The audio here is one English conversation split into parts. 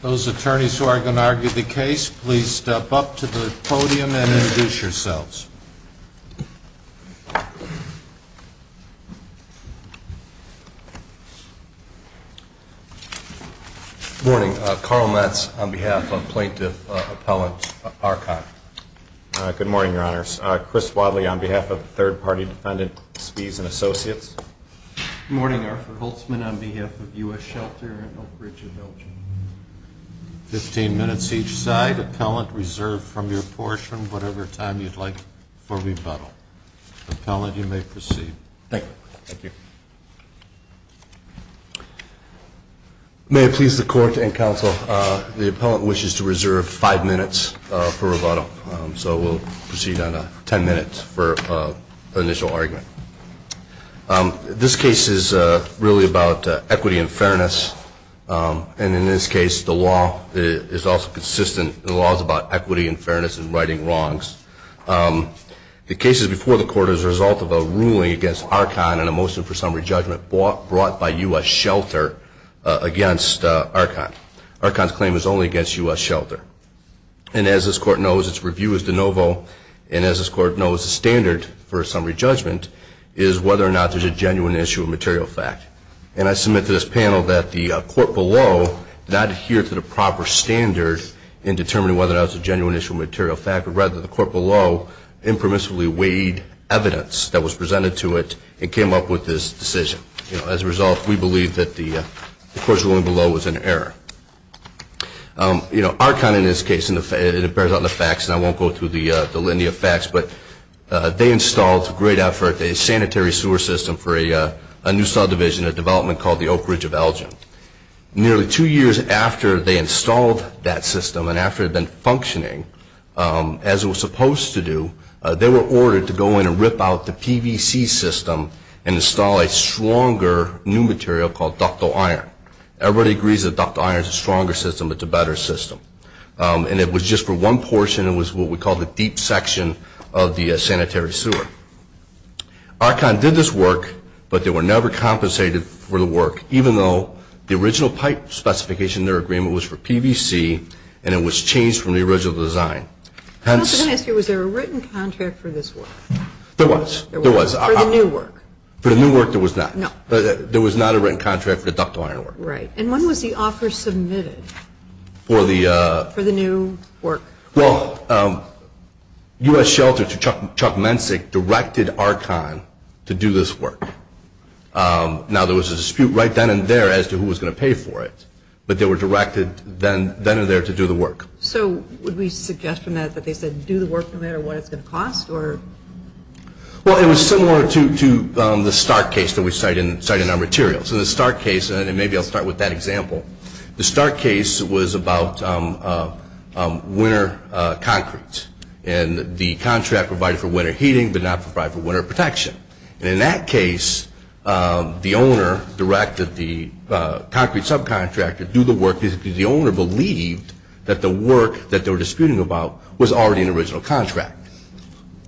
Those attorneys who are going to argue the case, please step up to the podium and introduce yourselves. Good morning, Carl Metz on behalf of Plaintiff Appellant Archon. Good morning, Your Honors. Chris Wadley on behalf of Third Party Defendant Spies and Associates. Good morning, Arford Holtzman on behalf of U.S. Shelter and Oak Ridge Adultery. Fifteen minutes each side. May I please the Court and Counsel, the appellant wishes to reserve five minutes for rebuttal, so we'll proceed on ten minutes for initial argument. This case is really about equity and fairness, and in this case, the law is also consistent. The law is about equity and fairness in righting wrongs. The case is before the Court as a result of a ruling against Archon and a motion for summary judgment brought by U.S. Shelter against Archon. Archon's claim is only against U.S. Shelter. And as this Court knows, its review is de novo, and as this Court knows, the standard for a summary judgment is whether or not there's a genuine issue of material fact. And I submit to this panel that the Court below did not adhere to the proper standard in determining whether or not it was a genuine issue of material fact, but rather the Court below impermissibly weighed evidence that was presented to it and came up with this decision. As a result, we believe that the Court's ruling below was an error. You know, Archon in this case, and it bears out in the facts, and I won't go through the great effort, a sanitary sewer system for a new subdivision, a development called the Oak Ridge of Elgin. Nearly two years after they installed that system and after it had been functioning as it was supposed to do, they were ordered to go in and rip out the PVC system and install a stronger new material called ductile iron. Everybody agrees that ductile iron is a stronger system, but it's a better system. And it was just for one portion, it was what we call the deep section of the sanitary sewer. Archon did this work, but they were never compensated for the work, even though the original pipe specification in their agreement was for PVC and it was changed from the original design. I also want to ask you, was there a written contract for this work? There was. There was. For the new work? For the new work, there was not. No. There was not a written contract for the ductile iron work. Right. And when was the offer submitted for the new work? Well, U.S. Shelter, to Chuck Mensick, directed Archon to do this work. Now there was a dispute right then and there as to who was going to pay for it, but they were directed then and there to do the work. So would we suggest from that that they said do the work no matter what it's going to cost? Well, it was similar to the Stark case that we cite in our materials. So the Stark case, and maybe I'll start with that example. The Stark case was about winter concrete, and the contract provided for winter heating but not provided for winter protection. And in that case, the owner directed the concrete subcontractor to do the work because the owner believed that the work that they were disputing about was already an original contract.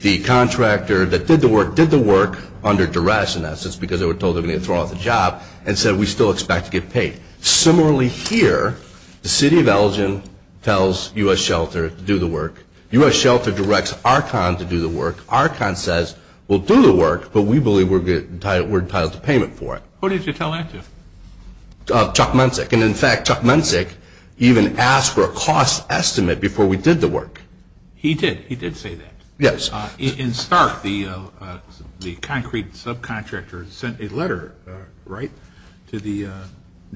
The contractor that did the work did the work under duress, in essence, because they were told they were going to get thrown off the job, and said we still expect to get paid. Similarly here, the city of Elgin tells U.S. Shelter to do the work, U.S. Shelter directs Archon to do the work, Archon says we'll do the work, but we believe we're entitled to payment for it. Who did you tell that to? Chuck Mensick. And in fact, Chuck Mensick even asked for a cost estimate before we did the work. He did. He did say that. Yes. In Stark, the concrete subcontractor sent a letter, right, to the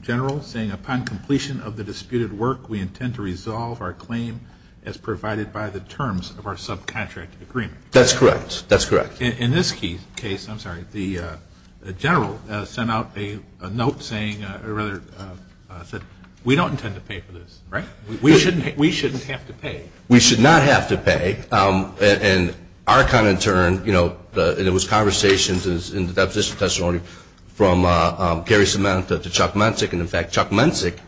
general saying upon completion of the disputed work, we intend to resolve our claim as provided by the terms of our subcontract agreement. That's correct. That's correct. In this case, I'm sorry, the general sent out a note saying, or rather, said we don't intend to pay for this, right? We shouldn't have to pay. We should not have to pay. And Archon in turn, you know, there was conversations in the deposition testimony from Gary Samantha to Chuck Mensick, and in fact, Chuck Mensick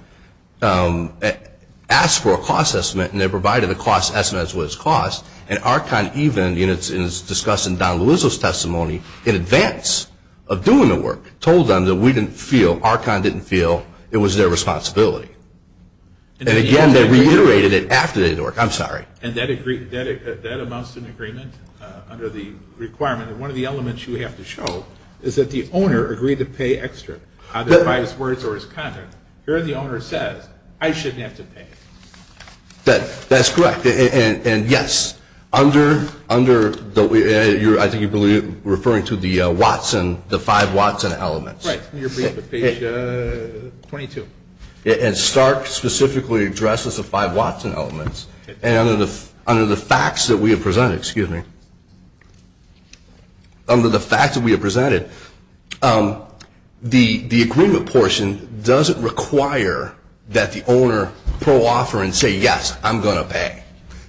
asked for a cost estimate, and they provided a cost estimate as well as cost. And Archon even, you know, it's discussed in Don Luizzo's testimony in advance of doing the work, told them that we didn't feel, Archon didn't feel it was their responsibility. And again, they reiterated it after they did the work. I'm sorry. And that amounts to an agreement under the requirement that one of the elements you have to show is that the owner agreed to pay extra, either by his words or his content. Here the owner says, I shouldn't have to pay. That's correct, and yes, under the, I think you're referring to the Watson, the five Watson elements. Right, in your brief at page 22. And Stark specifically addresses the five Watson elements, and under the facts that we have presented, excuse me, under the facts that we have presented, the agreement portion doesn't require that the owner pro offer and say, yes, I'm going to pay.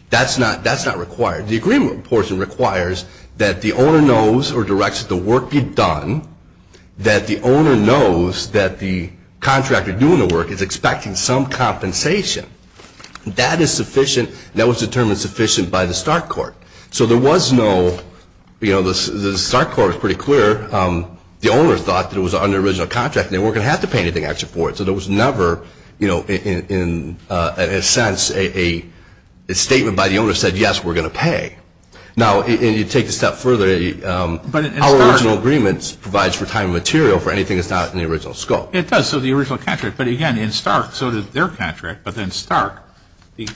That's not required. The agreement portion requires that the owner knows or directs the work be done, that the contractor doing the work is expecting some compensation. That is sufficient, and that was determined sufficient by the Stark court. So there was no, you know, the Stark court was pretty clear, the owner thought that it was under the original contract, and they weren't going to have to pay anything extra for it. So there was never, you know, in a sense, a statement by the owner that said, yes, we're going to pay. Now, and you take it a step further, our original agreement provides for time and material for anything that's not in the original scope. It does. So the original contract. But again, in Stark, so did their contract. But in Stark, the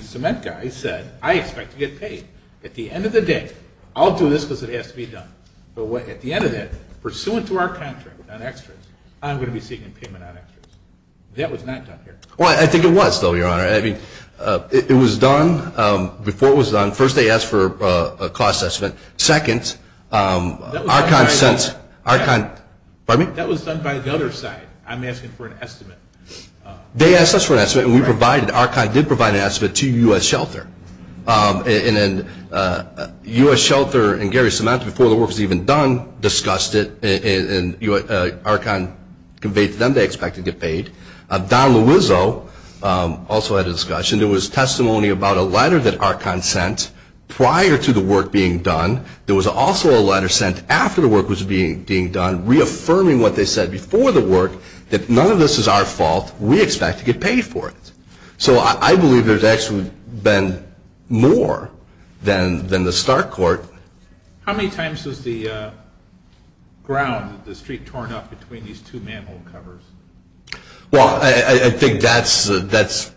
cement guy said, I expect to get paid. At the end of the day, I'll do this because it has to be done. But at the end of that, pursuant to our contract on extras, I'm going to be seeking payment on extras. That was not done here. Well, I think it was, though, Your Honor. I mean, it was done, before it was done, first they asked for a cost estimate, second, Archon sent, Archon. Pardon me? That was done by the other side. I'm asking for an estimate. They asked us for an estimate, and we provided, Archon did provide an estimate to U.S. Shelter. And then U.S. Shelter and Gary Samantha, before the work was even done, discussed it, and Archon conveyed to them they expected to get paid. Don Luizzo also had a discussion. There was testimony about a letter that Archon sent prior to the work being done. There was also a letter sent after the work was being done, reaffirming what they said before the work, that none of this is our fault. We expect to get paid for it. So I believe there's actually been more than the start court. How many times is the ground, the street torn up between these two manhole covers? Well, I think that's,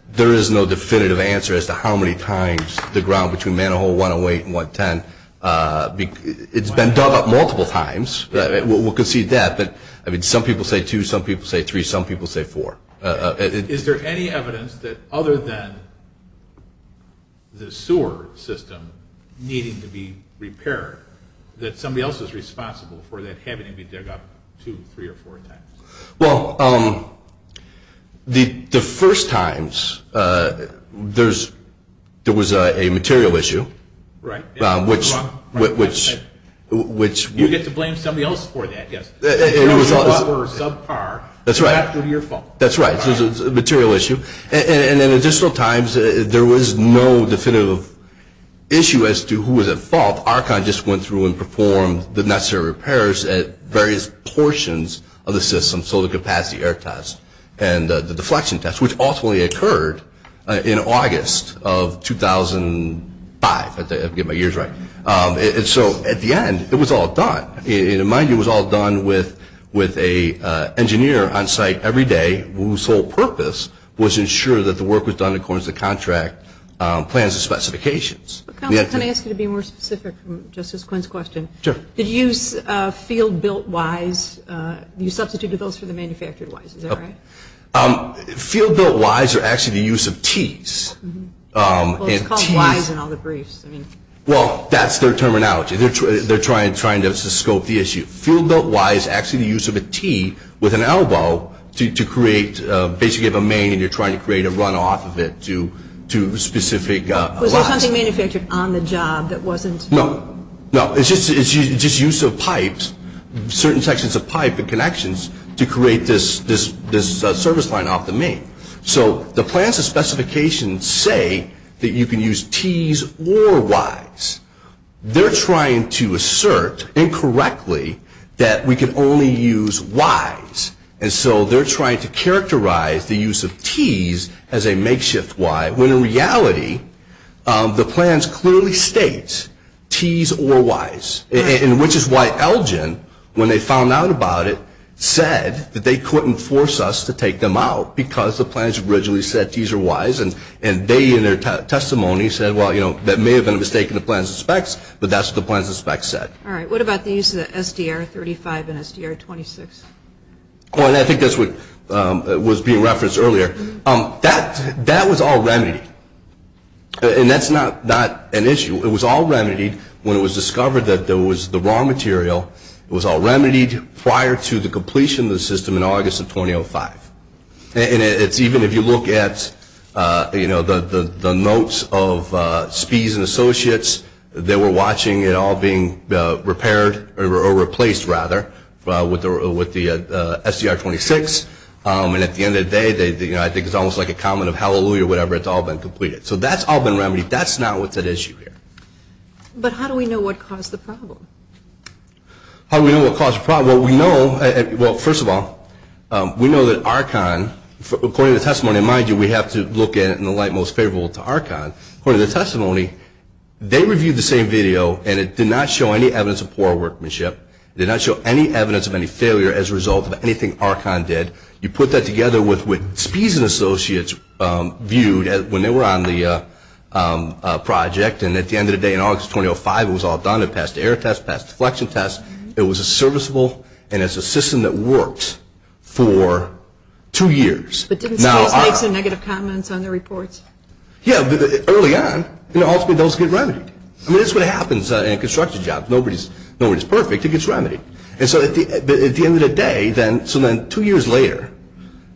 there is no definitive answer as to how many times the ground between manhole 108 and 110, it's been dug up multiple times, we'll concede that, but some people say two, some people say three, some people say four. Is there any evidence that other than the sewer system needing to be repaired that somebody else is responsible for that having to be dug up two, three, or four times? Well, the first times there was a material issue, which You get to blame somebody else for that, yes. It was all of us. Or subpar. That's right. It was your fault. That's right. It was a material issue. And in additional times, there was no definitive issue as to who was at fault. Archon just went through and performed the necessary repairs at various portions of the system, so the capacity air test and the deflection test, which ultimately occurred in August of 2005, if I get my years right. So at the end, it was all done. In my view, it was all done with an engineer on site every day whose whole purpose was to ensure that the work was done according to the contract plans and specifications. Counselor, can I ask you to be more specific from Justice Quinn's question? Sure. Did you use field built Ys? You substituted those for the manufactured Ys. Is that right? Field built Ys are actually the use of Ts. Well, it's called Ys in all the briefs. Well, that's their terminology. They're trying to scope the issue. Field built Y is actually the use of a T with an elbow to create basically a main, and you're trying to create a runoff of it to specific Ys. Was there something manufactured on the job that wasn't? No. No, it's just use of pipes, certain sections of pipe and connections, to create this service line off the main. So the plans and specifications say that you can use Ts or Ys. They're trying to assert incorrectly that we can only use Ys, and so they're trying to characterize the use of Ts as a makeshift Y, when in reality, the plans clearly state Ts or Ys, which is why Elgin, when they found out about it, said that they couldn't force us to take them out, because the plans originally said Ts or Ys, and they in their testimony said, well, you know, that may have been a mistake in the plans and specs, but that's what the plans and specs said. All right. What about the use of the SDR35 and SDR26? Oh, and I think that's what was being referenced earlier. That was all remedied, and that's not an issue. It was all remedied when it was discovered that there was the raw material, it was all remedied prior to the completion of the system in August of 2005. And it's even, if you look at, you know, the notes of Spies and Associates, they were watching it all being repaired or replaced, rather, with the SDR26, and at the end of the day, you know, I think it's almost like a comment of hallelujah, whatever, it's all been completed. So that's all been remedied. That's not what's at issue here. But how do we know what caused the problem? How do we know what caused the problem? Well, we know, well, first of all, we know that Archon, according to the testimony, mind you, we have to look at it in the light most favorable to Archon. According to the testimony, they reviewed the same video, and it did not show any evidence of poor workmanship. It did not show any evidence of any failure as a result of anything Archon did. You put that together with what Spies and Associates viewed when they were on the project, and at the end of the day, in August of 2005, it was all done. It passed the error test, passed the deflection test. It was a serviceable, and it's a system that worked for two years. But didn't Spies make some negative comments on the reports? Yeah, early on, you know, ultimately those get remedied. I mean, that's what happens in a construction job. Nobody's perfect. It gets remedied. And so at the end of the day, then, so then two years later,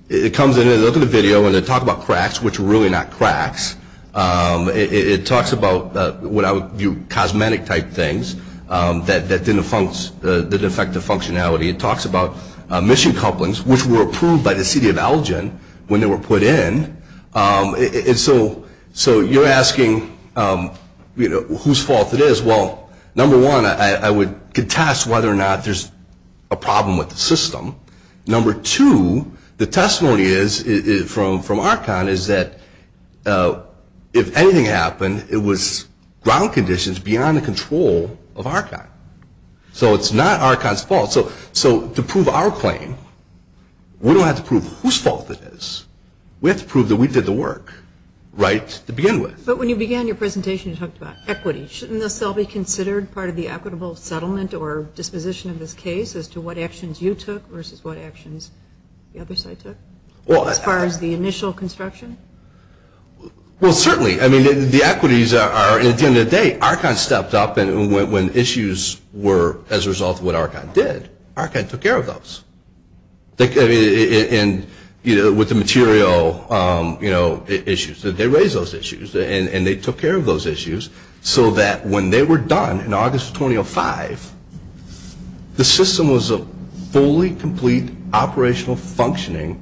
it comes in, and they look at the video, and they talk about cracks, which were really not cracks. It talks about what I would view cosmetic-type things that didn't affect the functionality. It talks about mission couplings, which were approved by the city of Elgin when they were put in. And so you're asking, you know, whose fault it is. Well, number one, I would contest whether or not there's a problem with the system. Number two, the testimony from Archon is that if anything happened, it was ground conditions beyond the control of Archon. So it's not Archon's fault. So to prove our claim, we don't have to prove whose fault it is. We have to prove that we did the work, right, to begin with. But when you began your presentation, you talked about equity. Shouldn't this all be considered part of the equitable settlement or disposition of this case as to what actions you took versus what actions the other side took as far as the initial construction? Well, certainly. I mean, the equities are, at the end of the day, Archon stepped up. And when issues were as a result of what Archon did, Archon took care of those. And with the material issues, they raised those issues, and they took care of those issues so that when they were done in August of 2005, the system was a fully complete operational functioning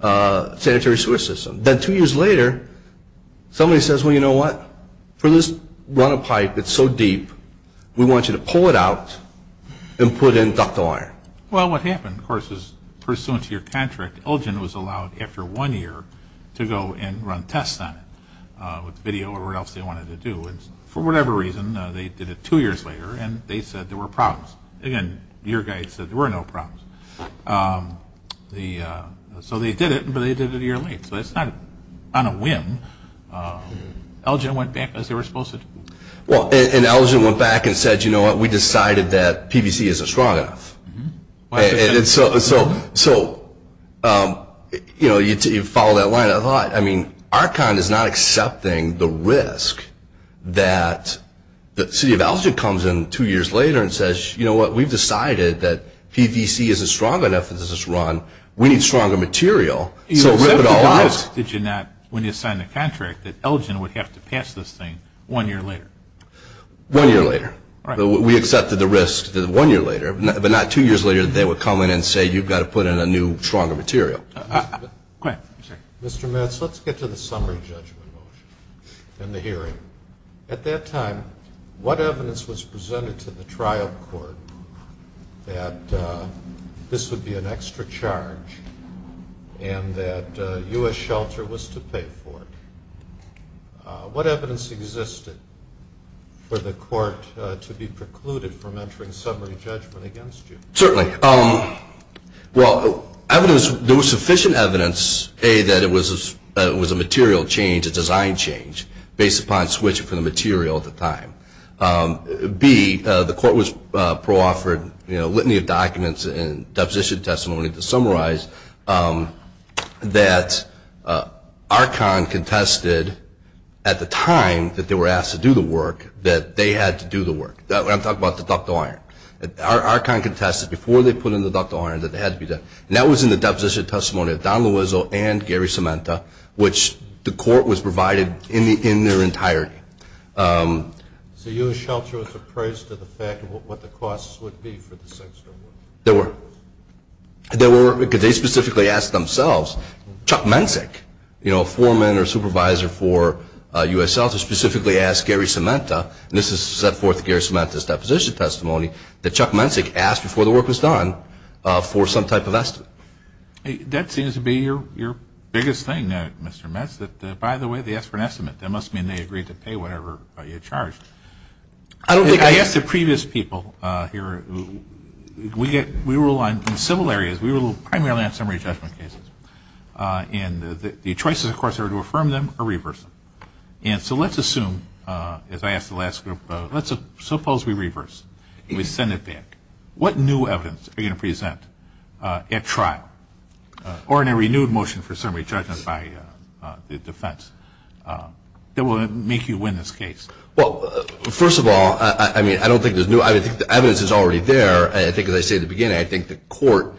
sanitary sewer system. Then two years later, somebody says, well, you know what? For this run-up pipe that's so deep, we want you to pull it out and put in ductile iron. Well, what happened, of course, is pursuant to your contract, Elgin was allowed after one year to go and run tests on it with video or whatever else they wanted to do. And for whatever reason, they did it two years later, and they said there were problems. Again, your guy said there were no problems. So they did it, but they did it a year late. So it's not on a whim. Elgin went back as they were supposed to. Well, and Elgin went back and said, you know what? We decided that PVC is a strong enough. And so you follow that line of thought. I mean, Archon is not accepting the risk that the city of Elgin comes in two years later and says, you know what? We've decided that PVC isn't strong enough for this run. We need stronger material. So rip it all out. Did you not, when you signed the contract, that Elgin would have to pass this thing one year later? One year later. We accepted the risk that one year later, but not two years later that they would come in and say, you've got to put in a new, stronger material. Go ahead. Mr. Metz, let's get to the summary judgment motion and the hearing. At that time, what evidence was presented to the trial court that this would be an extra charge and that US Shelter was to pay for it? What evidence existed for the court to be precluded from entering summary judgment against you? Certainly. Well, there was sufficient evidence, A, that it was a material change, a design change, based upon switching from the material at the time. B, the court was pro-offered litany of documents and deposition testimony to summarize that Archon contested at the time that they were asked to do the work that they had to do the work. I'm talking about the ductile iron. Archon contested before they put in the ductile iron that it had to be done. And that was in the deposition testimony of Don Loiseau and Gary Cementa, which the court was provided in their entirety. So US Shelter was appraised to the fact of what the costs would be for the six? They were. They were, because they specifically asked themselves. Chuck Mensick, you know, foreman or supervisor for US Shelter, specifically asked Gary Cementa, and this is set forth in Gary Cementa's deposition testimony, that Chuck Mensick asked before the work was done for some type of estimate. That seems to be your biggest thing, Mr. Metz, that, by the way, they asked for an estimate. That must mean they agreed to pay whatever you charged. I asked the previous people here, we rule on, in civil areas, we rule primarily on summary judgment cases. And the choices, of course, are to affirm them or reverse them. And so let's assume, as I asked the last group, let's suppose we reverse, we send it back. What new evidence are you going to present at trial or in a renewed motion for summary judgment by the defense that will make you win this case? Well, first of all, I mean, I don't think there's new, I think the evidence is already there. I think, as I said at the beginning, I think the court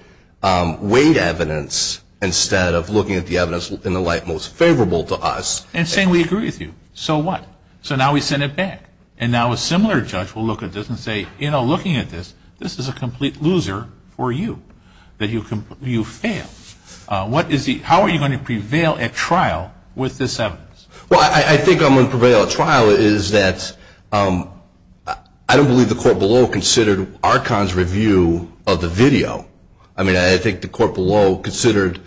weighed evidence instead of looking at the evidence in the light most favorable to us. And saying, we agree with you. So what? So now we send it back. And now a similar judge will look at this and say, you know, looking at this, this is a complete loser for you, that you failed. What is the, how are you going to prevail at trial with this evidence? Well, I think I'm going to prevail at trial is that I don't believe the court below considered Archon's review of the video. I mean, I think the court below considered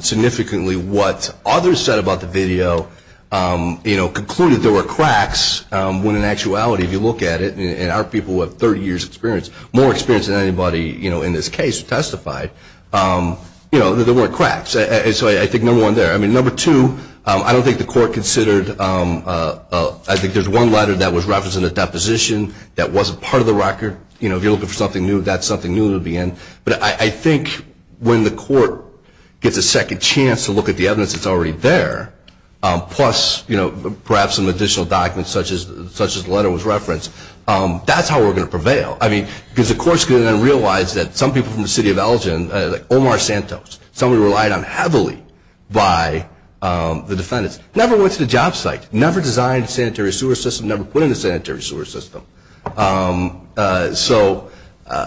significantly what others said about the video. You know, concluded there were cracks when in actuality, if you look at it, and our people have 30 years experience, more experience than anybody, you know, in this case who testified, you know, that there weren't cracks. And so I think number one there. I mean, number two, I don't think the court considered, I think there's one letter that was referenced in the deposition that wasn't part of the record. You know, if you're looking for something new, that's something new to begin. But I think when the court gets a second chance to look at the evidence that's already there, plus, you know, perhaps some additional documents such as the letter was referenced, that's how we're going to prevail. I mean, because the court's going to then realize that some people from the city of Elgin, Omar Santos, somebody relied on heavily by the defendants, never went to the job site, never designed a sanitary sewer system, never put in a sanitary sewer system. So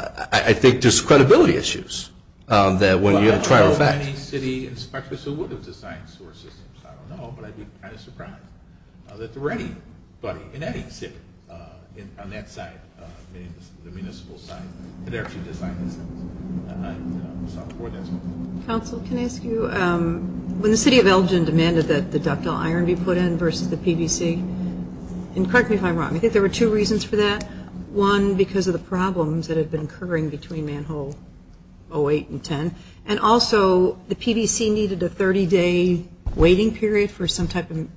I think there's credibility issues that when you have a trial effect. Well, I don't know of any city inspectors who would have designed sewer systems. I don't know, but I'd be kind of surprised that there were anybody in any city on that site, the municipal site, that actually designed the system. Counsel, can I ask you, when the city of Elgin demanded that the ductile iron be put in versus the PVC, and correct me if I'm wrong, I think there were two reasons for that. One, because of the problems that had been occurring between Manhole 08 and 10. And also, the PVC needed a 30-day waiting period for some type of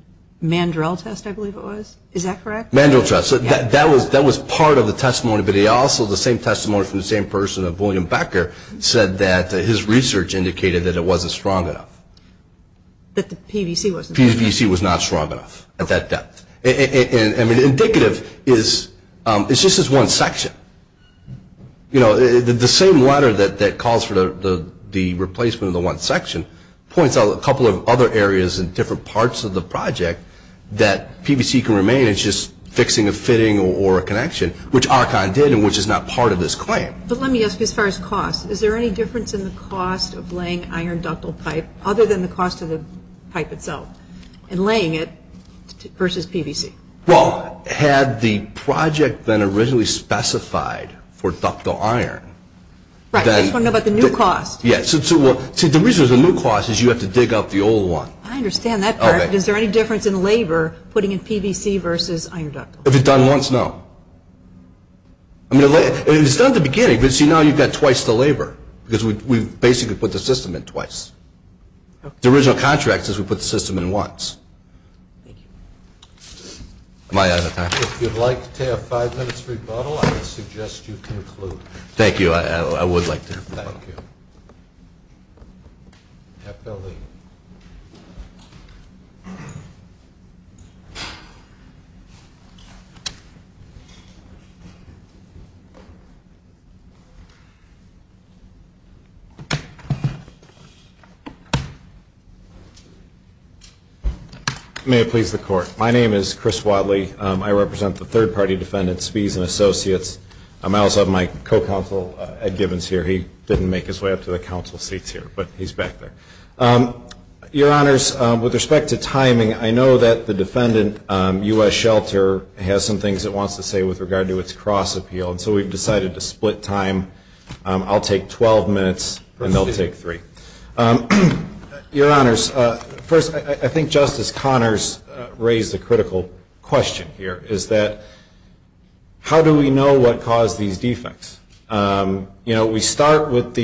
mandrel test, I believe it was. Is that correct? Mandrel test. That was part of the testimony, but also the same testimony from the same person of William Becker said that his research indicated that it wasn't strong enough. That the PVC wasn't strong enough. PVC was not strong enough at that depth. And indicative is, it's just this one section. You know, the same letter that calls for the replacement of the one section, points out a couple of other areas in different parts of the project that PVC can remain. And it's just fixing a fitting or a connection, which Archon did, and which is not part of this claim. But let me ask you, as far as cost, is there any difference in the cost of laying iron ductile pipe, other than the cost of the pipe itself, and laying it versus PVC? Well, had the project been originally specified for ductile iron, then... Right, I just want to know about the new cost. Yes, so the reason there's a new cost is you have to dig up the old one. I understand that part, but is there any difference in labor putting in PVC versus iron ductile? If it's done once, no. I mean, it's done at the beginning, but see, now you've got twice the labor. Because we basically put the system in twice. The original contract says we put the system in once. Thank you. Am I out of time? If you'd like to have five minutes rebuttal, I would suggest you conclude. Thank you, I would like to. Thank you. May it please the Court. My name is Chris Wadley. I represent the third party defendants, Spies and Associates. I also have my co-counsel, Ed Gibbons, here. He didn't make his way up to the council seats here, but he's back there. Your Honors, with respect to timing, I know that the defendant, U.S. Shelter, has some things it wants to say with regard to its cross-appeal, and so we've decided to split time. I'll take 12 minutes, and they'll take three. Your Honors, first, I think Justice Connors raised a critical question here, is that how do we know what caused these defects? We start with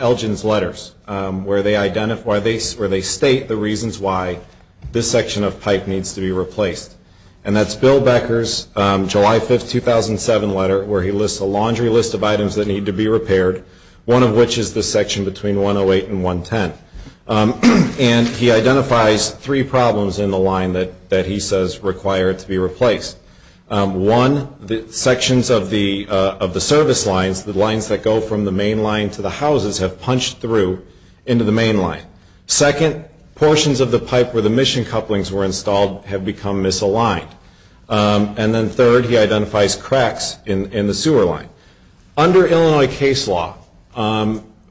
Elgin's letters, where they state the reasons why this section of pipe needs to be replaced, and that's Bill Becker's July 5, 2007, letter, where he lists a laundry list of items that need to be repaired, one of which is the section between 108 and 110, and he identifies three problems in the line that he says require it to be replaced. One, the sections of the service lines, the lines that go from the main line to the houses, have punched through into the main line. Second, portions of the pipe where the mission couplings were installed have become misaligned, and then third, he identifies cracks in the sewer line. Under Illinois case law,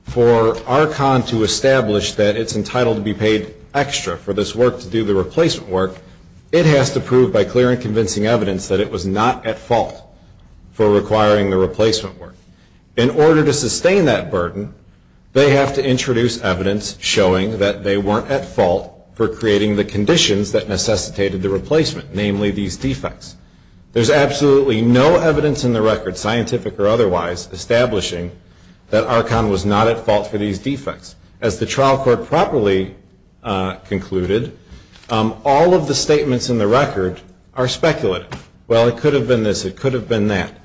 for Archon to establish that it's entitled to be paid extra for this work to do the replacement work, it has to prove by clear and convincing evidence that it was not at fault for requiring the replacement work. In order to sustain that burden, they have to introduce evidence showing that they weren't at fault for creating the conditions that necessitated the replacement, namely these defects. There's absolutely no evidence in the record, scientific or otherwise, establishing that Archon was not at fault for these defects. As the trial court properly concluded, all of the statements in the record are speculative. Well, it could have been this. It could have been that.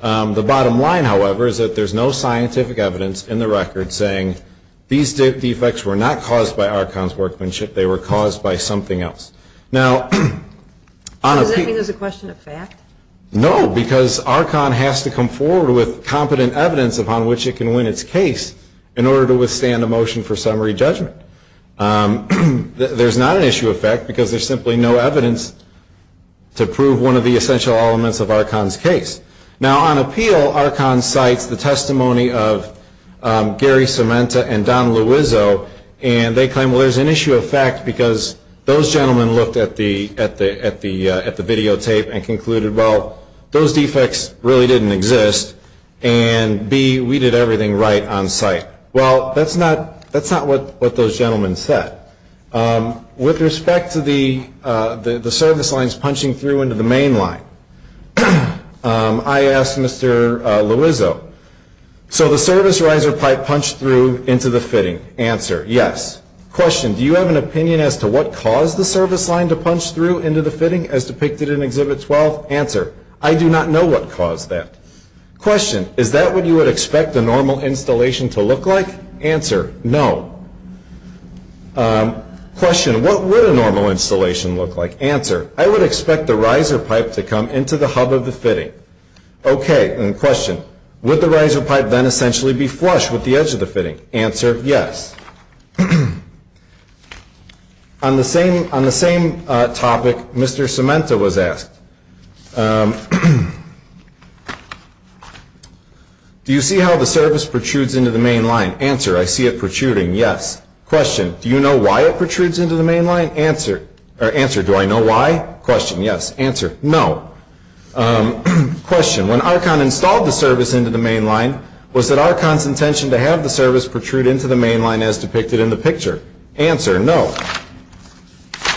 The bottom line, however, is that there's no scientific evidence in the record saying these defects were not caused by Archon's workmanship. They were caused by something else. Now, on a Does that mean there's a question of fact? No, because Archon has to come forward with competent evidence upon which it can win its case in order to withstand a motion for summary judgment. There's not an issue of fact because there's simply no evidence to prove one of the essential elements of Archon's case. Now, on appeal, Archon cites the testimony of Gary Cementa and Don Luizzo, and they claim, well, there's an issue of fact because those gentlemen looked at the videotape and concluded, well, those defects really didn't exist, and B, we did everything right on site. Well, that's not what those gentlemen said. With respect to the service lines punching through into the main line, I asked Mr. Luizzo, so the service riser pipe punched through into the fitting? Answer, yes. Question, do you have an opinion as to what caused the service line to punch through into the fitting as depicted in Exhibit 12? Answer, I do not know what caused that. Question, is that what you would expect a normal installation to look like? Answer, no. Question, what would a normal installation look like? Answer, I would expect the riser pipe to come into the hub of the fitting. Okay, and question, would the riser pipe then essentially be flush with the edge of the fitting? Answer, yes. On the same topic, Mr. Cementa was asked, do you see how the service protrudes into the main line? Answer, I see it protruding, yes. Question, do you know why it protrudes into the main line? Answer, do I know why? Question, yes. Answer, no. Question, when Archon installed the service into the main line, was it Archon's intention to have the service protrude into the main line as depicted in the picture? Answer, no.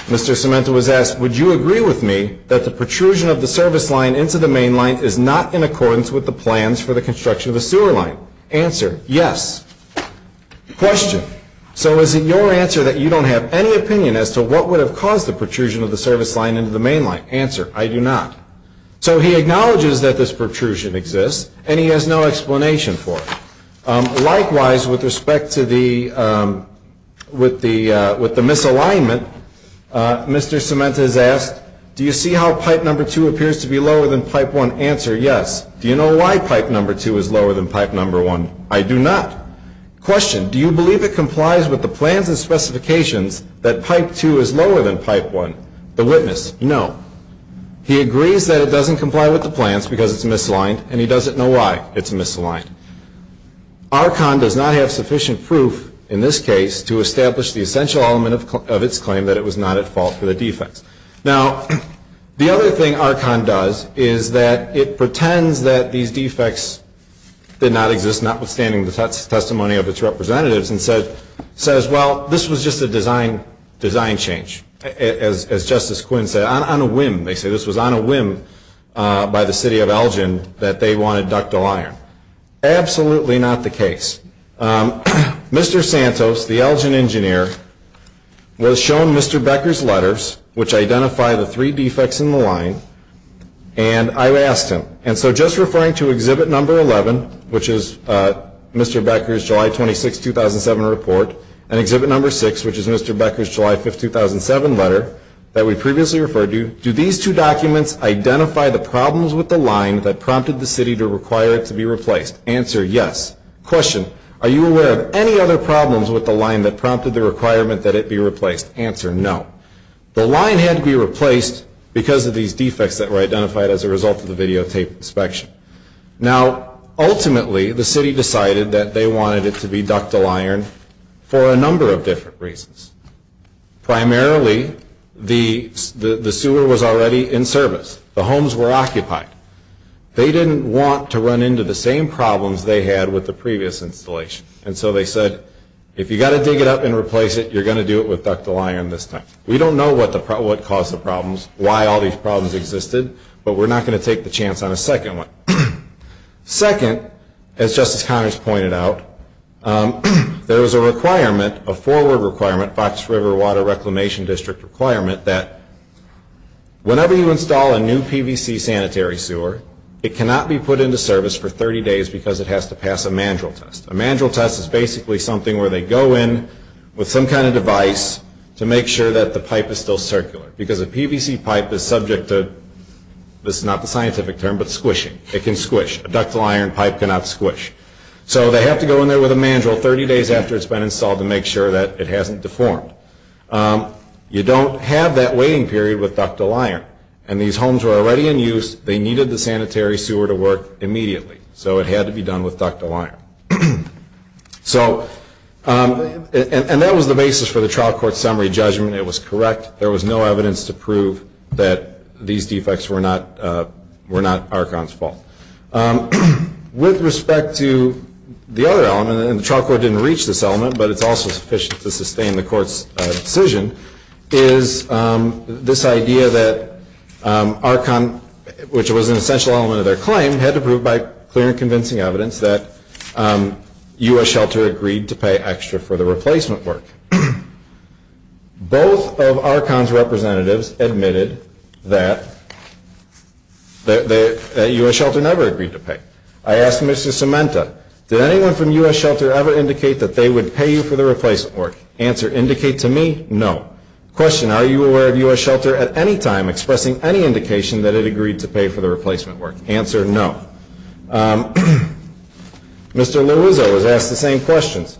Mr. Cementa was asked, would you agree with me that the protrusion of the service line into the main line is not in accordance with the plans for the construction of the sewer line? Answer, yes. Question, so is it your answer that you don't have any opinion as to what would have caused the protrusion of the service line into the main line? Answer, I do not. So he acknowledges that this protrusion exists, and he has no explanation for it. Likewise, with respect to the, with the misalignment, Mr. Cementa is asked, do you see how pipe number two appears to be lower than pipe one? Answer, yes. Do you know why pipe number two is lower than pipe number one? I do not. Question, do you believe it complies with the plans and specifications that pipe two is lower than pipe one? The witness, no. He agrees that it doesn't comply with the plans because it's misaligned, and he doesn't know why it's misaligned. Archon does not have sufficient proof, in this case, to establish the essential element of its claim that it was not at fault for the defects. Now, the other thing Archon does is that it pretends that these defects did not exist, notwithstanding the testimony of its representatives, and says, well, this was just a design change, as Justice Quinn said, on a whim. They say this was on a whim by the city of Elgin that they wanted ductile iron. Absolutely not the case. Mr. Santos, the Elgin engineer, was shown Mr. Becker's letters, which identify the three defects in the line, and I asked him, and so just referring to Exhibit Number 11, which is Mr. Becker's July 26, 2007 report, and Exhibit Number 6, which is Mr. Becker's July 5, 2007 letter that we previously referred to, do these two documents identify the problems with the line that prompted the city to require it to be replaced? Answer, yes. Question, are you aware of any other problems with the line that prompted the requirement that it be replaced? Answer, no. The line had to be replaced because of these defects that were identified as a result of the videotape inspection. Now, ultimately, the city decided that they wanted it to be ductile iron for a number of different reasons. Primarily, the sewer was already in service. The homes were occupied. They didn't want to run into the same problems they had with the previous installation, and so they said, if you've got to dig it up and replace it, you're going to do it with ductile iron this time. We don't know what caused the problems, why all these problems existed, but we're not going to take the chance on a second one. Second, as Justice Connors pointed out, there was a requirement, a forward requirement, Fox River Water Reclamation District requirement, that whenever you install a new PVC sanitary sewer, it cannot be put into service for 30 days because it has to pass a mandrel test. A mandrel test is basically something where they go in with some kind of device to make sure that the pipe is still circular, because a PVC pipe is subject to, this is not the scientific term, but squishing. It can squish. A ductile iron pipe cannot squish. So they have to go in there with a mandrel 30 days after it's been installed to make sure that it hasn't deformed. You don't have that waiting period with ductile iron, and these homes were already in use. They needed the sanitary sewer to work immediately, so it had to be done with ductile iron. So, and that was the basis for the trial court summary judgment. It was correct. There was no evidence to prove that these defects were not Archon's fault. With respect to the other element, and the trial court didn't reach this element, but it's also sufficient to sustain the court's decision, is this idea that Archon, which was an essential element of their claim, had to prove by clear and convincing evidence that U.S. Shelter agreed to pay extra for the replacement work. Both of Archon's representatives admitted that U.S. Shelter never agreed to pay. I asked Mr. Sementa, did anyone from U.S. Shelter ever indicate that they would pay you for the replacement work? Answer, indicate to me, no. Question, are you aware of U.S. Shelter at any time expressing any indication that it agreed to pay for the replacement work? Answer, no. Mr. Louzo was asked the same questions.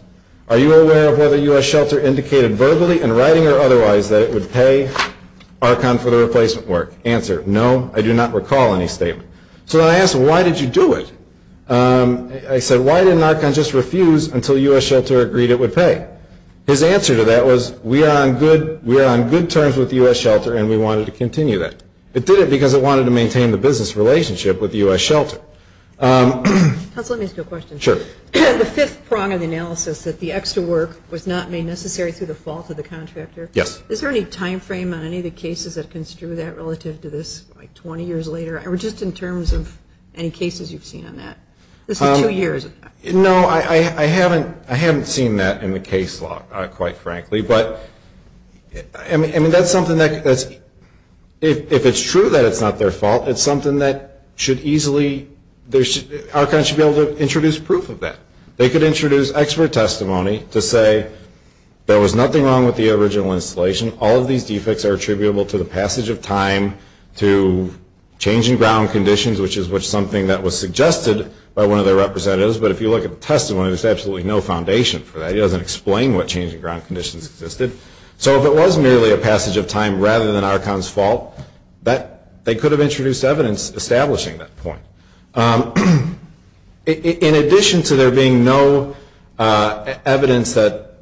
Are you aware of whether U.S. Shelter indicated verbally in writing or otherwise that it would pay Archon for the replacement work? Answer, no, I do not recall any statement. So I asked, why did you do it? He said, why didn't Archon just refuse until U.S. Shelter agreed it would pay? His answer to that was, we are on good terms with U.S. Shelter and we wanted to continue that. It did it because it wanted to maintain the business relationship with U.S. Shelter. Counsel, let me ask you a question. Sure. The fifth prong of the analysis that the extra work was not made necessary through the fault of the contractor. Yes. Is there any time frame on any of the cases that construe that relative to this, like 20 years later, or just in terms of any cases you've seen on that? This is two years. No, I haven't seen that in the case law, quite frankly. But, I mean, that's something that's, if it's true that it's not their fault, it's something that should easily, Archon should be able to introduce proof of that. They could introduce expert testimony to say there was nothing wrong with the original installation. All of these defects are attributable to the passage of time to changing ground conditions, which is something that was suggested by one of their representatives. But if you look at the testimony, there's absolutely no foundation for that. It doesn't explain what changing ground conditions existed. So if it was merely a passage of time rather than Archon's fault, they could have introduced evidence establishing that point. In addition to there being no evidence that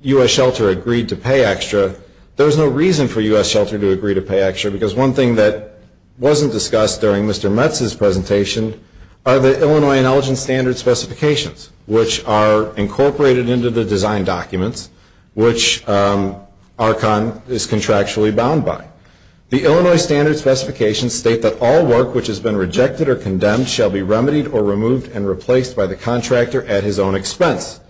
U.S. Shelter agreed to pay extra, there's no reason for U.S. Shelter to agree to pay extra, because one thing that wasn't discussed during Mr. Metz's presentation are the Illinois intelligence standard specifications, which are incorporated into the design documents, which Archon is contractually bound by. The Illinois standard specifications state that all work which has been rejected or condemned shall be remedied or removed and replaced by the contractor at his own expense.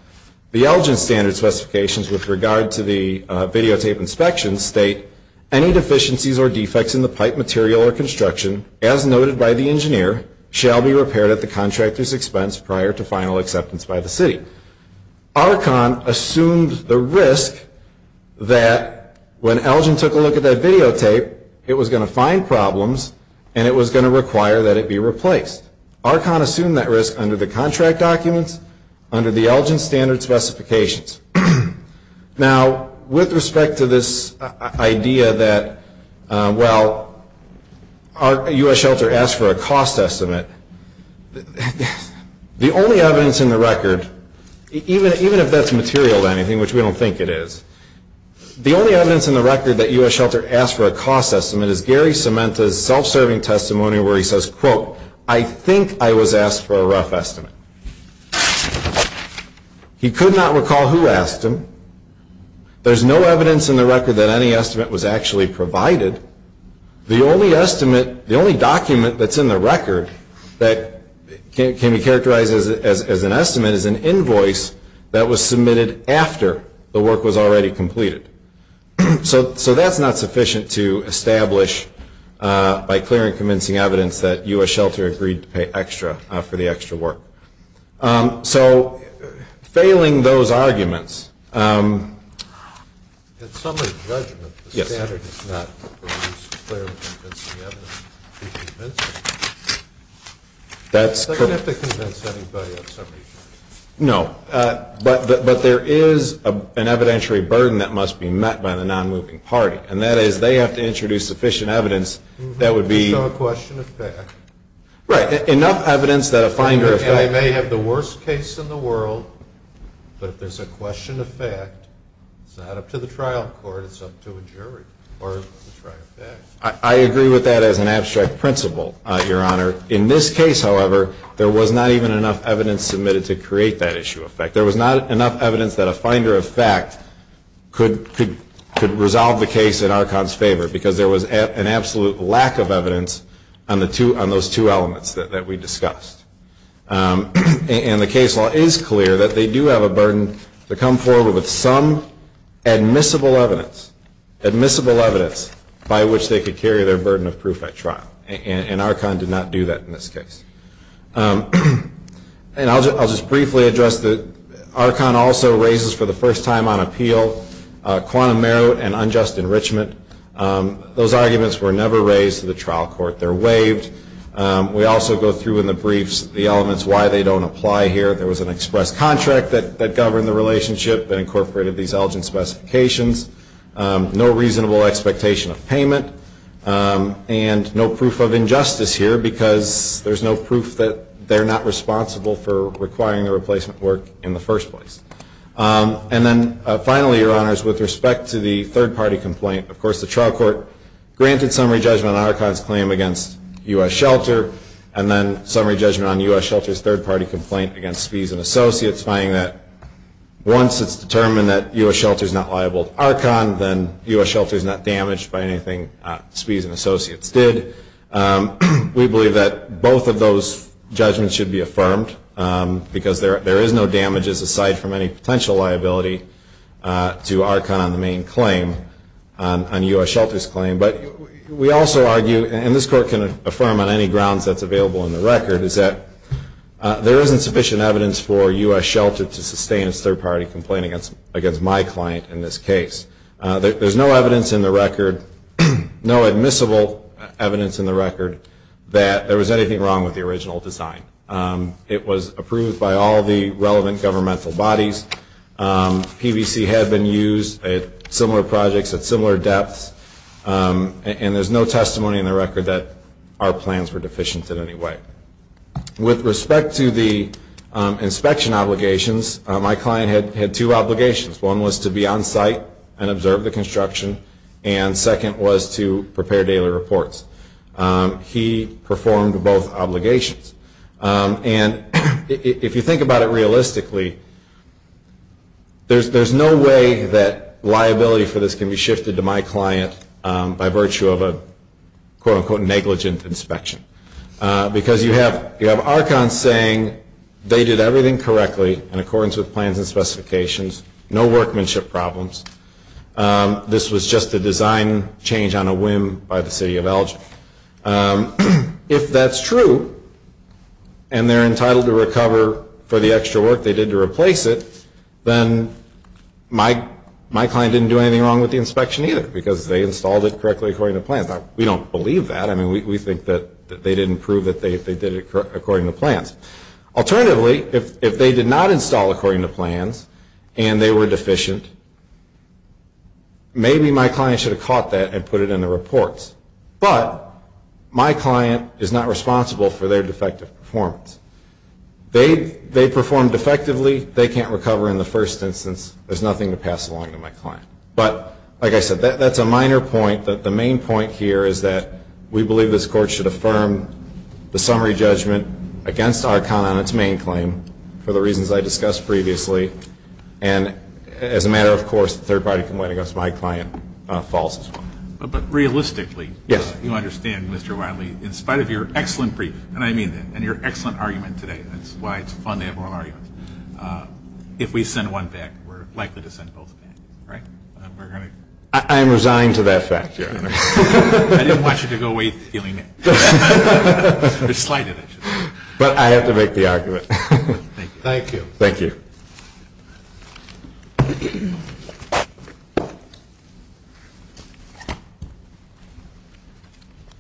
The Elgin standard specifications with regard to the videotape inspections state any deficiencies or defects in the pipe material or construction, as noted by the engineer, shall be repaired at the contractor's expense prior to final acceptance by the city. Archon assumed the risk that when Elgin took a look at that videotape, it was going to find problems and it was going to require that it be replaced. Archon assumed that risk under the contract documents, under the Elgin standard specifications. Now with respect to this idea that, well, U.S. Shelter asked for a cost estimate, the only evidence in the record, even if that's material to anything, which we don't think it is, the only evidence in the record that U.S. Shelter asked for a cost estimate is Gary Cementa's self-serving testimony where he says, quote, I think I was asked for a rough estimate. He could not recall who asked him. There's no evidence in the record that any estimate was actually provided. The only estimate, the only document that's in the record that can be characterized as an estimate is an invoice that was submitted after the work was already completed. So that's not sufficient to establish, by clear and convincing evidence, that U.S. Shelter agreed to pay extra for the extra work. So failing those arguments... In summary judgment, the standard is not to produce clear and convincing evidence to convince us. I don't have to convince anybody in summary judgment. No, but there is an evidentiary burden that must be met by the non-moving party, and that is they have to introduce sufficient evidence that would be... So a question of fact. Right, enough evidence that a finder... And I may have the worst case in the world, but if there's a question of fact, it's not up to the trial court, it's up to a jury. Or the trial facts. I agree with that as an abstract principle, Your Honor. In this case, however, there was not even enough evidence submitted to create that issue of fact. There was not enough evidence that a finder of fact could resolve the case in our cons' favor, because there was an absolute lack of evidence on those two elements that we discussed. And the case law is clear that they do have a burden to come forward with some admissible evidence, admissible evidence by which they could carry their burden of proof at trial. And Archon did not do that in this case. And I'll just briefly address that Archon also raises for the first time on appeal, quantum merit and unjust enrichment. Those arguments were never raised to the trial court. They're waived. We also go through in the briefs the elements why they don't apply here. There was an express contract that governed the relationship, that incorporated these Elgin specifications. No reasonable expectation of payment, and no proof of injustice here, because there's no proof that they're not responsible for requiring the replacement work in the first place. And then finally, Your Honors, with respect to the third party complaint, of course, the trial court granted summary judgment on Archon's claim against U.S. Shelter, and then summary judgment on U.S. Shelter's third party complaint against Spies and Associates, finding that once it's determined that U.S. Shelter is not liable to Archon, then U.S. Shelter is not damaged by anything Spies and Associates did. We believe that both of those judgments should be affirmed, because there is no damages aside from any potential liability to Archon on the main claim. On U.S. Shelter's claim. But we also argue, and this court can affirm on any grounds that's available in the record, is that there isn't sufficient evidence for U.S. Shelter to sustain its third party complaint against my client in this case. There's no evidence in the record, no admissible evidence in the record, that there was anything wrong with the original design. It was approved by all the relevant governmental bodies. PVC had been used at similar projects at similar depths. And there's no testimony in the record that our plans were deficient in any way. With respect to the inspection obligations, my client had two obligations. One was to be on site and observe the construction. And second was to prepare daily reports. He performed both obligations. And if you think about it realistically, there's no way that liability for this can be shifted to my client by virtue of a quote-unquote negligent inspection. Because you have Archon saying they did everything correctly in accordance with plans and specifications. No workmanship problems. This was just a design change on a whim by the city of Elgin. If that's true, and they're entitled to recover for the extra work they did to replace it, then my client didn't do anything wrong with the inspection either, because they installed it correctly according to plans. We don't believe that. I mean, we think that they didn't prove that they did it according to plans. Alternatively, if they did not install according to plans, and they were deficient, maybe my client should have caught that and put it in the reports. But my client is not responsible for their defective performance. They performed effectively. They can't recover in the first instance. There's nothing to pass along to my client. But like I said, that's a minor point. But the main point here is that we believe this court should affirm the summary judgment against Archon on its main claim for the reasons I discussed previously. And as a matter of course, the third party complaint against my client falls as well. But realistically, you understand, Mr. Wiley, in spite of your excellent brief, and I mean that, and your excellent argument today, that's why it's fun to have oral arguments, if we send one back, we're likely to send both back, right? I am resigned to that fact, Your Honor. I didn't want you to go away feeling it. You're slighted, actually. But I have to make the argument. Thank you. Thank you.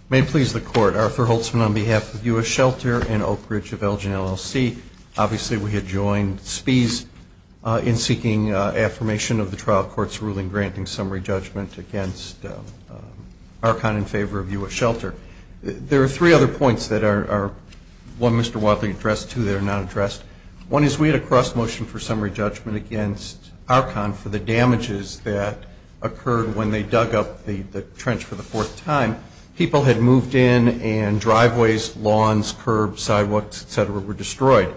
May it please the court. Arthur Holtzman on behalf of U.S. Shelter and Oak Ridge of Elgin, LLC. Obviously, we had joined Spies in seeking affirmation of the trial court's ruling, granting summary judgment against Archon in favor of U.S. Shelter. There are three other points that are, one, Mr. Wiley addressed, two, that are not addressed. One is we had a cross motion for summary judgment against Archon for the damages that occurred when they dug up the trench for the fourth time. People had moved in and driveways, lawns, curbs, sidewalks, et cetera, were destroyed.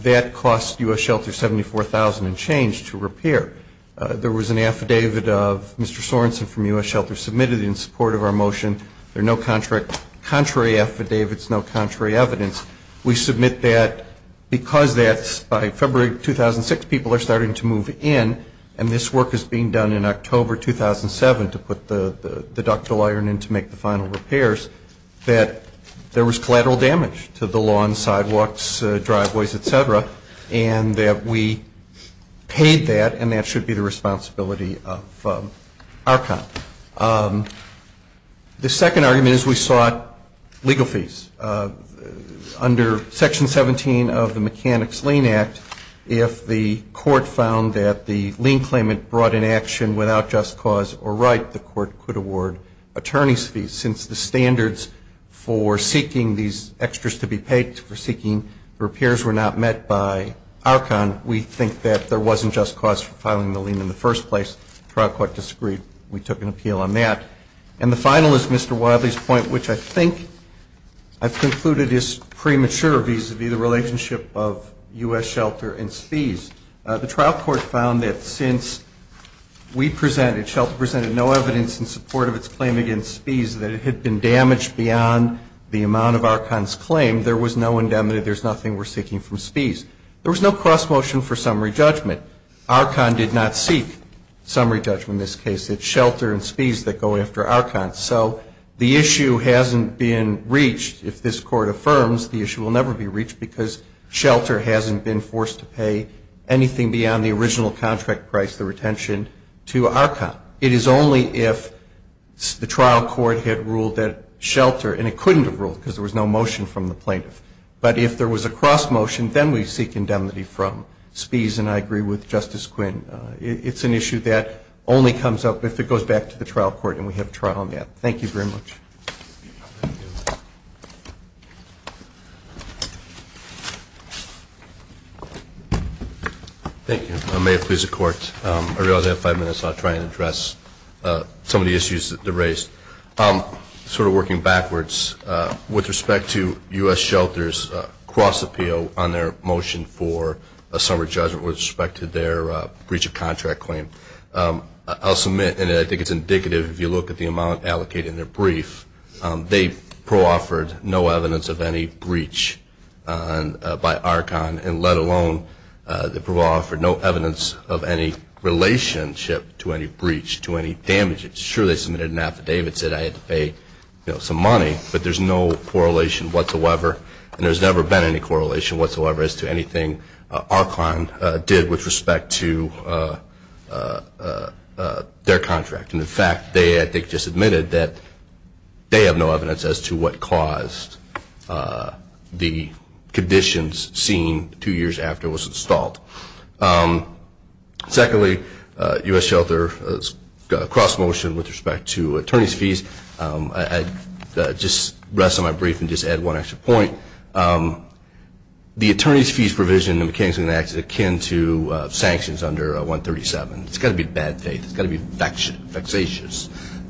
That cost U.S. Shelter $74,000 and change to repair. There was an affidavit of Mr. Sorensen from U.S. Shelter submitted in support of our motion. There are no contrary affidavits, no contrary evidence. We submit that because that's by February 2006, people are starting to move in, and this work is being done in October 2007 to put the ductile iron in to make the final repairs, that there was collateral damage to the lawns, sidewalks, driveways, et cetera, and that we paid that and that should be the responsibility of Archon. The second argument is we sought legal fees. Under Section 17 of the Mechanics' Lien Act, if the court found that the lien claimant brought in action without just cause or right, the court could award attorney's fees. Since the standards for seeking these extras to be paid for seeking repairs were not met by Archon, we think that there wasn't just cause for filing the lien in the first place. The trial court disagreed. We took an appeal on that. And the final is Mr. Wadley's point, which I think I've concluded is premature vis-a-vis the relationship of U.S. Shelter and Spies. The trial court found that since we presented, Shelter presented no evidence in support of its claim against Spies, that it had been damaged beyond the amount of Archon's claim, there was no indemnity, there's nothing we're seeking from Spies. There was no cross motion for summary judgment. Archon did not seek summary judgment in this case. It's Shelter and Spies that go after Archon. So the issue hasn't been reached. If this court affirms, the issue will never be reached because Shelter hasn't been forced to pay anything beyond the original contract price, the retention, to Archon. It is only if the trial court had ruled that Shelter, and it couldn't have ruled because there was no motion from the plaintiff. But if there was a cross motion, then we seek indemnity from Spies. And I agree with Justice Quinn. It's an issue that only comes up if it goes back to the trial court. And we have a trial on that. Thank you very much. Thank you. May it please the court. I realize I have five minutes, so I'll try and address some of the issues that were raised. Sort of working backwards, with respect to U.S. Shelter's cross appeal on their motion for a summary judgment with respect to their breach of contract claim. I'll submit, and I think it's indicative if you look at the amount allocated in their brief, they pro-offered no evidence of any breach by Archon, and let alone, they pro-offered no evidence of any relationship to any breach, to any damage. It's true they submitted an affidavit, said I had to pay some money, but there's no correlation whatsoever. And there's never been any correlation whatsoever as to anything Archon did with respect to their contract. And in fact, they I think just admitted that they have no evidence as to what caused the conditions seen two years after it was installed. Secondly, U.S. Shelter's cross motion with respect to attorney's fees. I just rest on my brief and just add one extra point. The attorney's fees provision in the McKinsey Act is akin to sanctions under 137. It's gotta be bad faith, it's gotta be vexatious.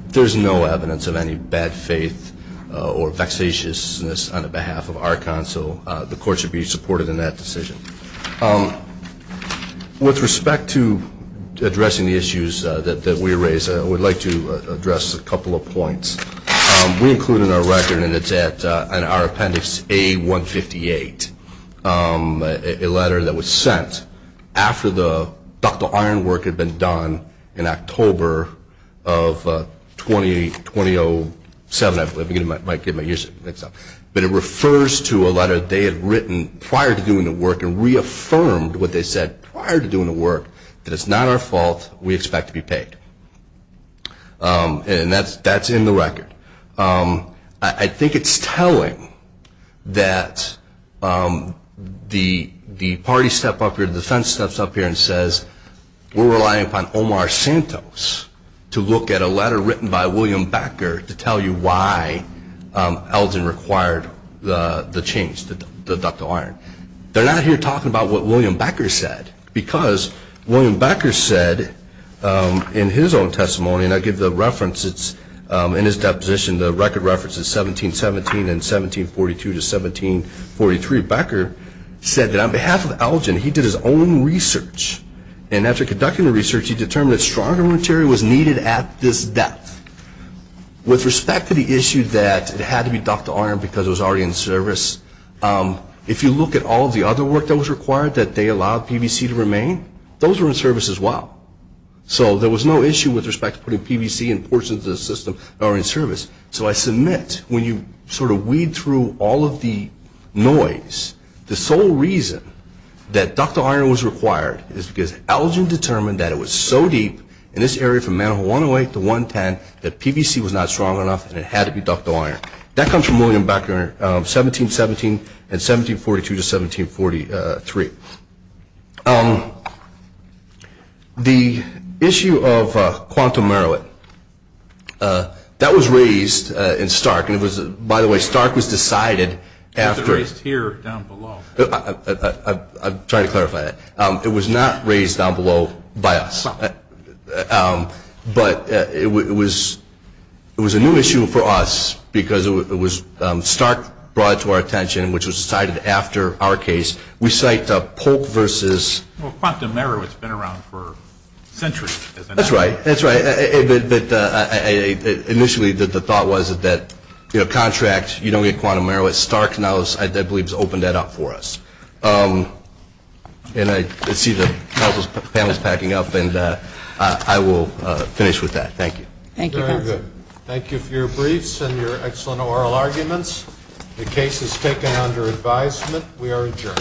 There's no evidence of any bad faith or vexatiousness on the behalf of Archon, so the court should be supported in that decision. With respect to addressing the issues that we raised, we'd like to address a couple of points. We included in our record, and it's in our appendix A158, a letter that was sent after the ductile iron work had been done in October of 2007. I'm giving my ears, I think so. But it refers to a letter they had written prior to doing the work and reaffirmed what they said prior to doing the work, that it's not our fault, we expect to be paid. And that's in the record. I think it's telling that the party step up here, the defense steps up here and says we're relying upon Omar Santos to look at a letter written by William Becker to tell you why Elgin required the change, the ductile iron. They're not here talking about what William Becker said, because William Becker said in his own testimony, and I give the reference, it's in his deposition, the record reference is 1717 and 1742 to 1743. Becker said that on behalf of Elgin, he did his own research. And after conducting the research, he determined that stronger material was needed at this depth. With respect to the issue that it had to be ductile iron because it was already in service. If you look at all the other work that was required that they allowed PVC to remain, those were in service as well. So there was no issue with respect to putting PVC in portions of the system that were in service. So I submit, when you sort of weed through all of the noise, the sole reason that ductile iron was required is because Elgin determined that it was so deep in this area from manhole 108 to 110 that PVC was not strong enough and it had to be ductile iron. That comes from William Becker, 1717 and 1742 to 1743. The issue of quantum arrowhead, that was raised in Stark. And it was, by the way, Stark was decided after- It was raised here down below. I'm trying to clarify that. It was not raised down below by us. But it was a new issue for us because it was Stark brought it to our attention which was decided after our case. We cite Polk versus- Well, quantum arrowhead's been around for centuries, isn't it? That's right, that's right. Initially, the thought was that contract, you don't get quantum arrowhead. Stark now, I believe, has opened that up for us. And I see the panel's packing up, and I will finish with that. Thank you. Thank you. Thank you for your briefs and your excellent oral arguments. The case is taken under advisement. We are adjourned.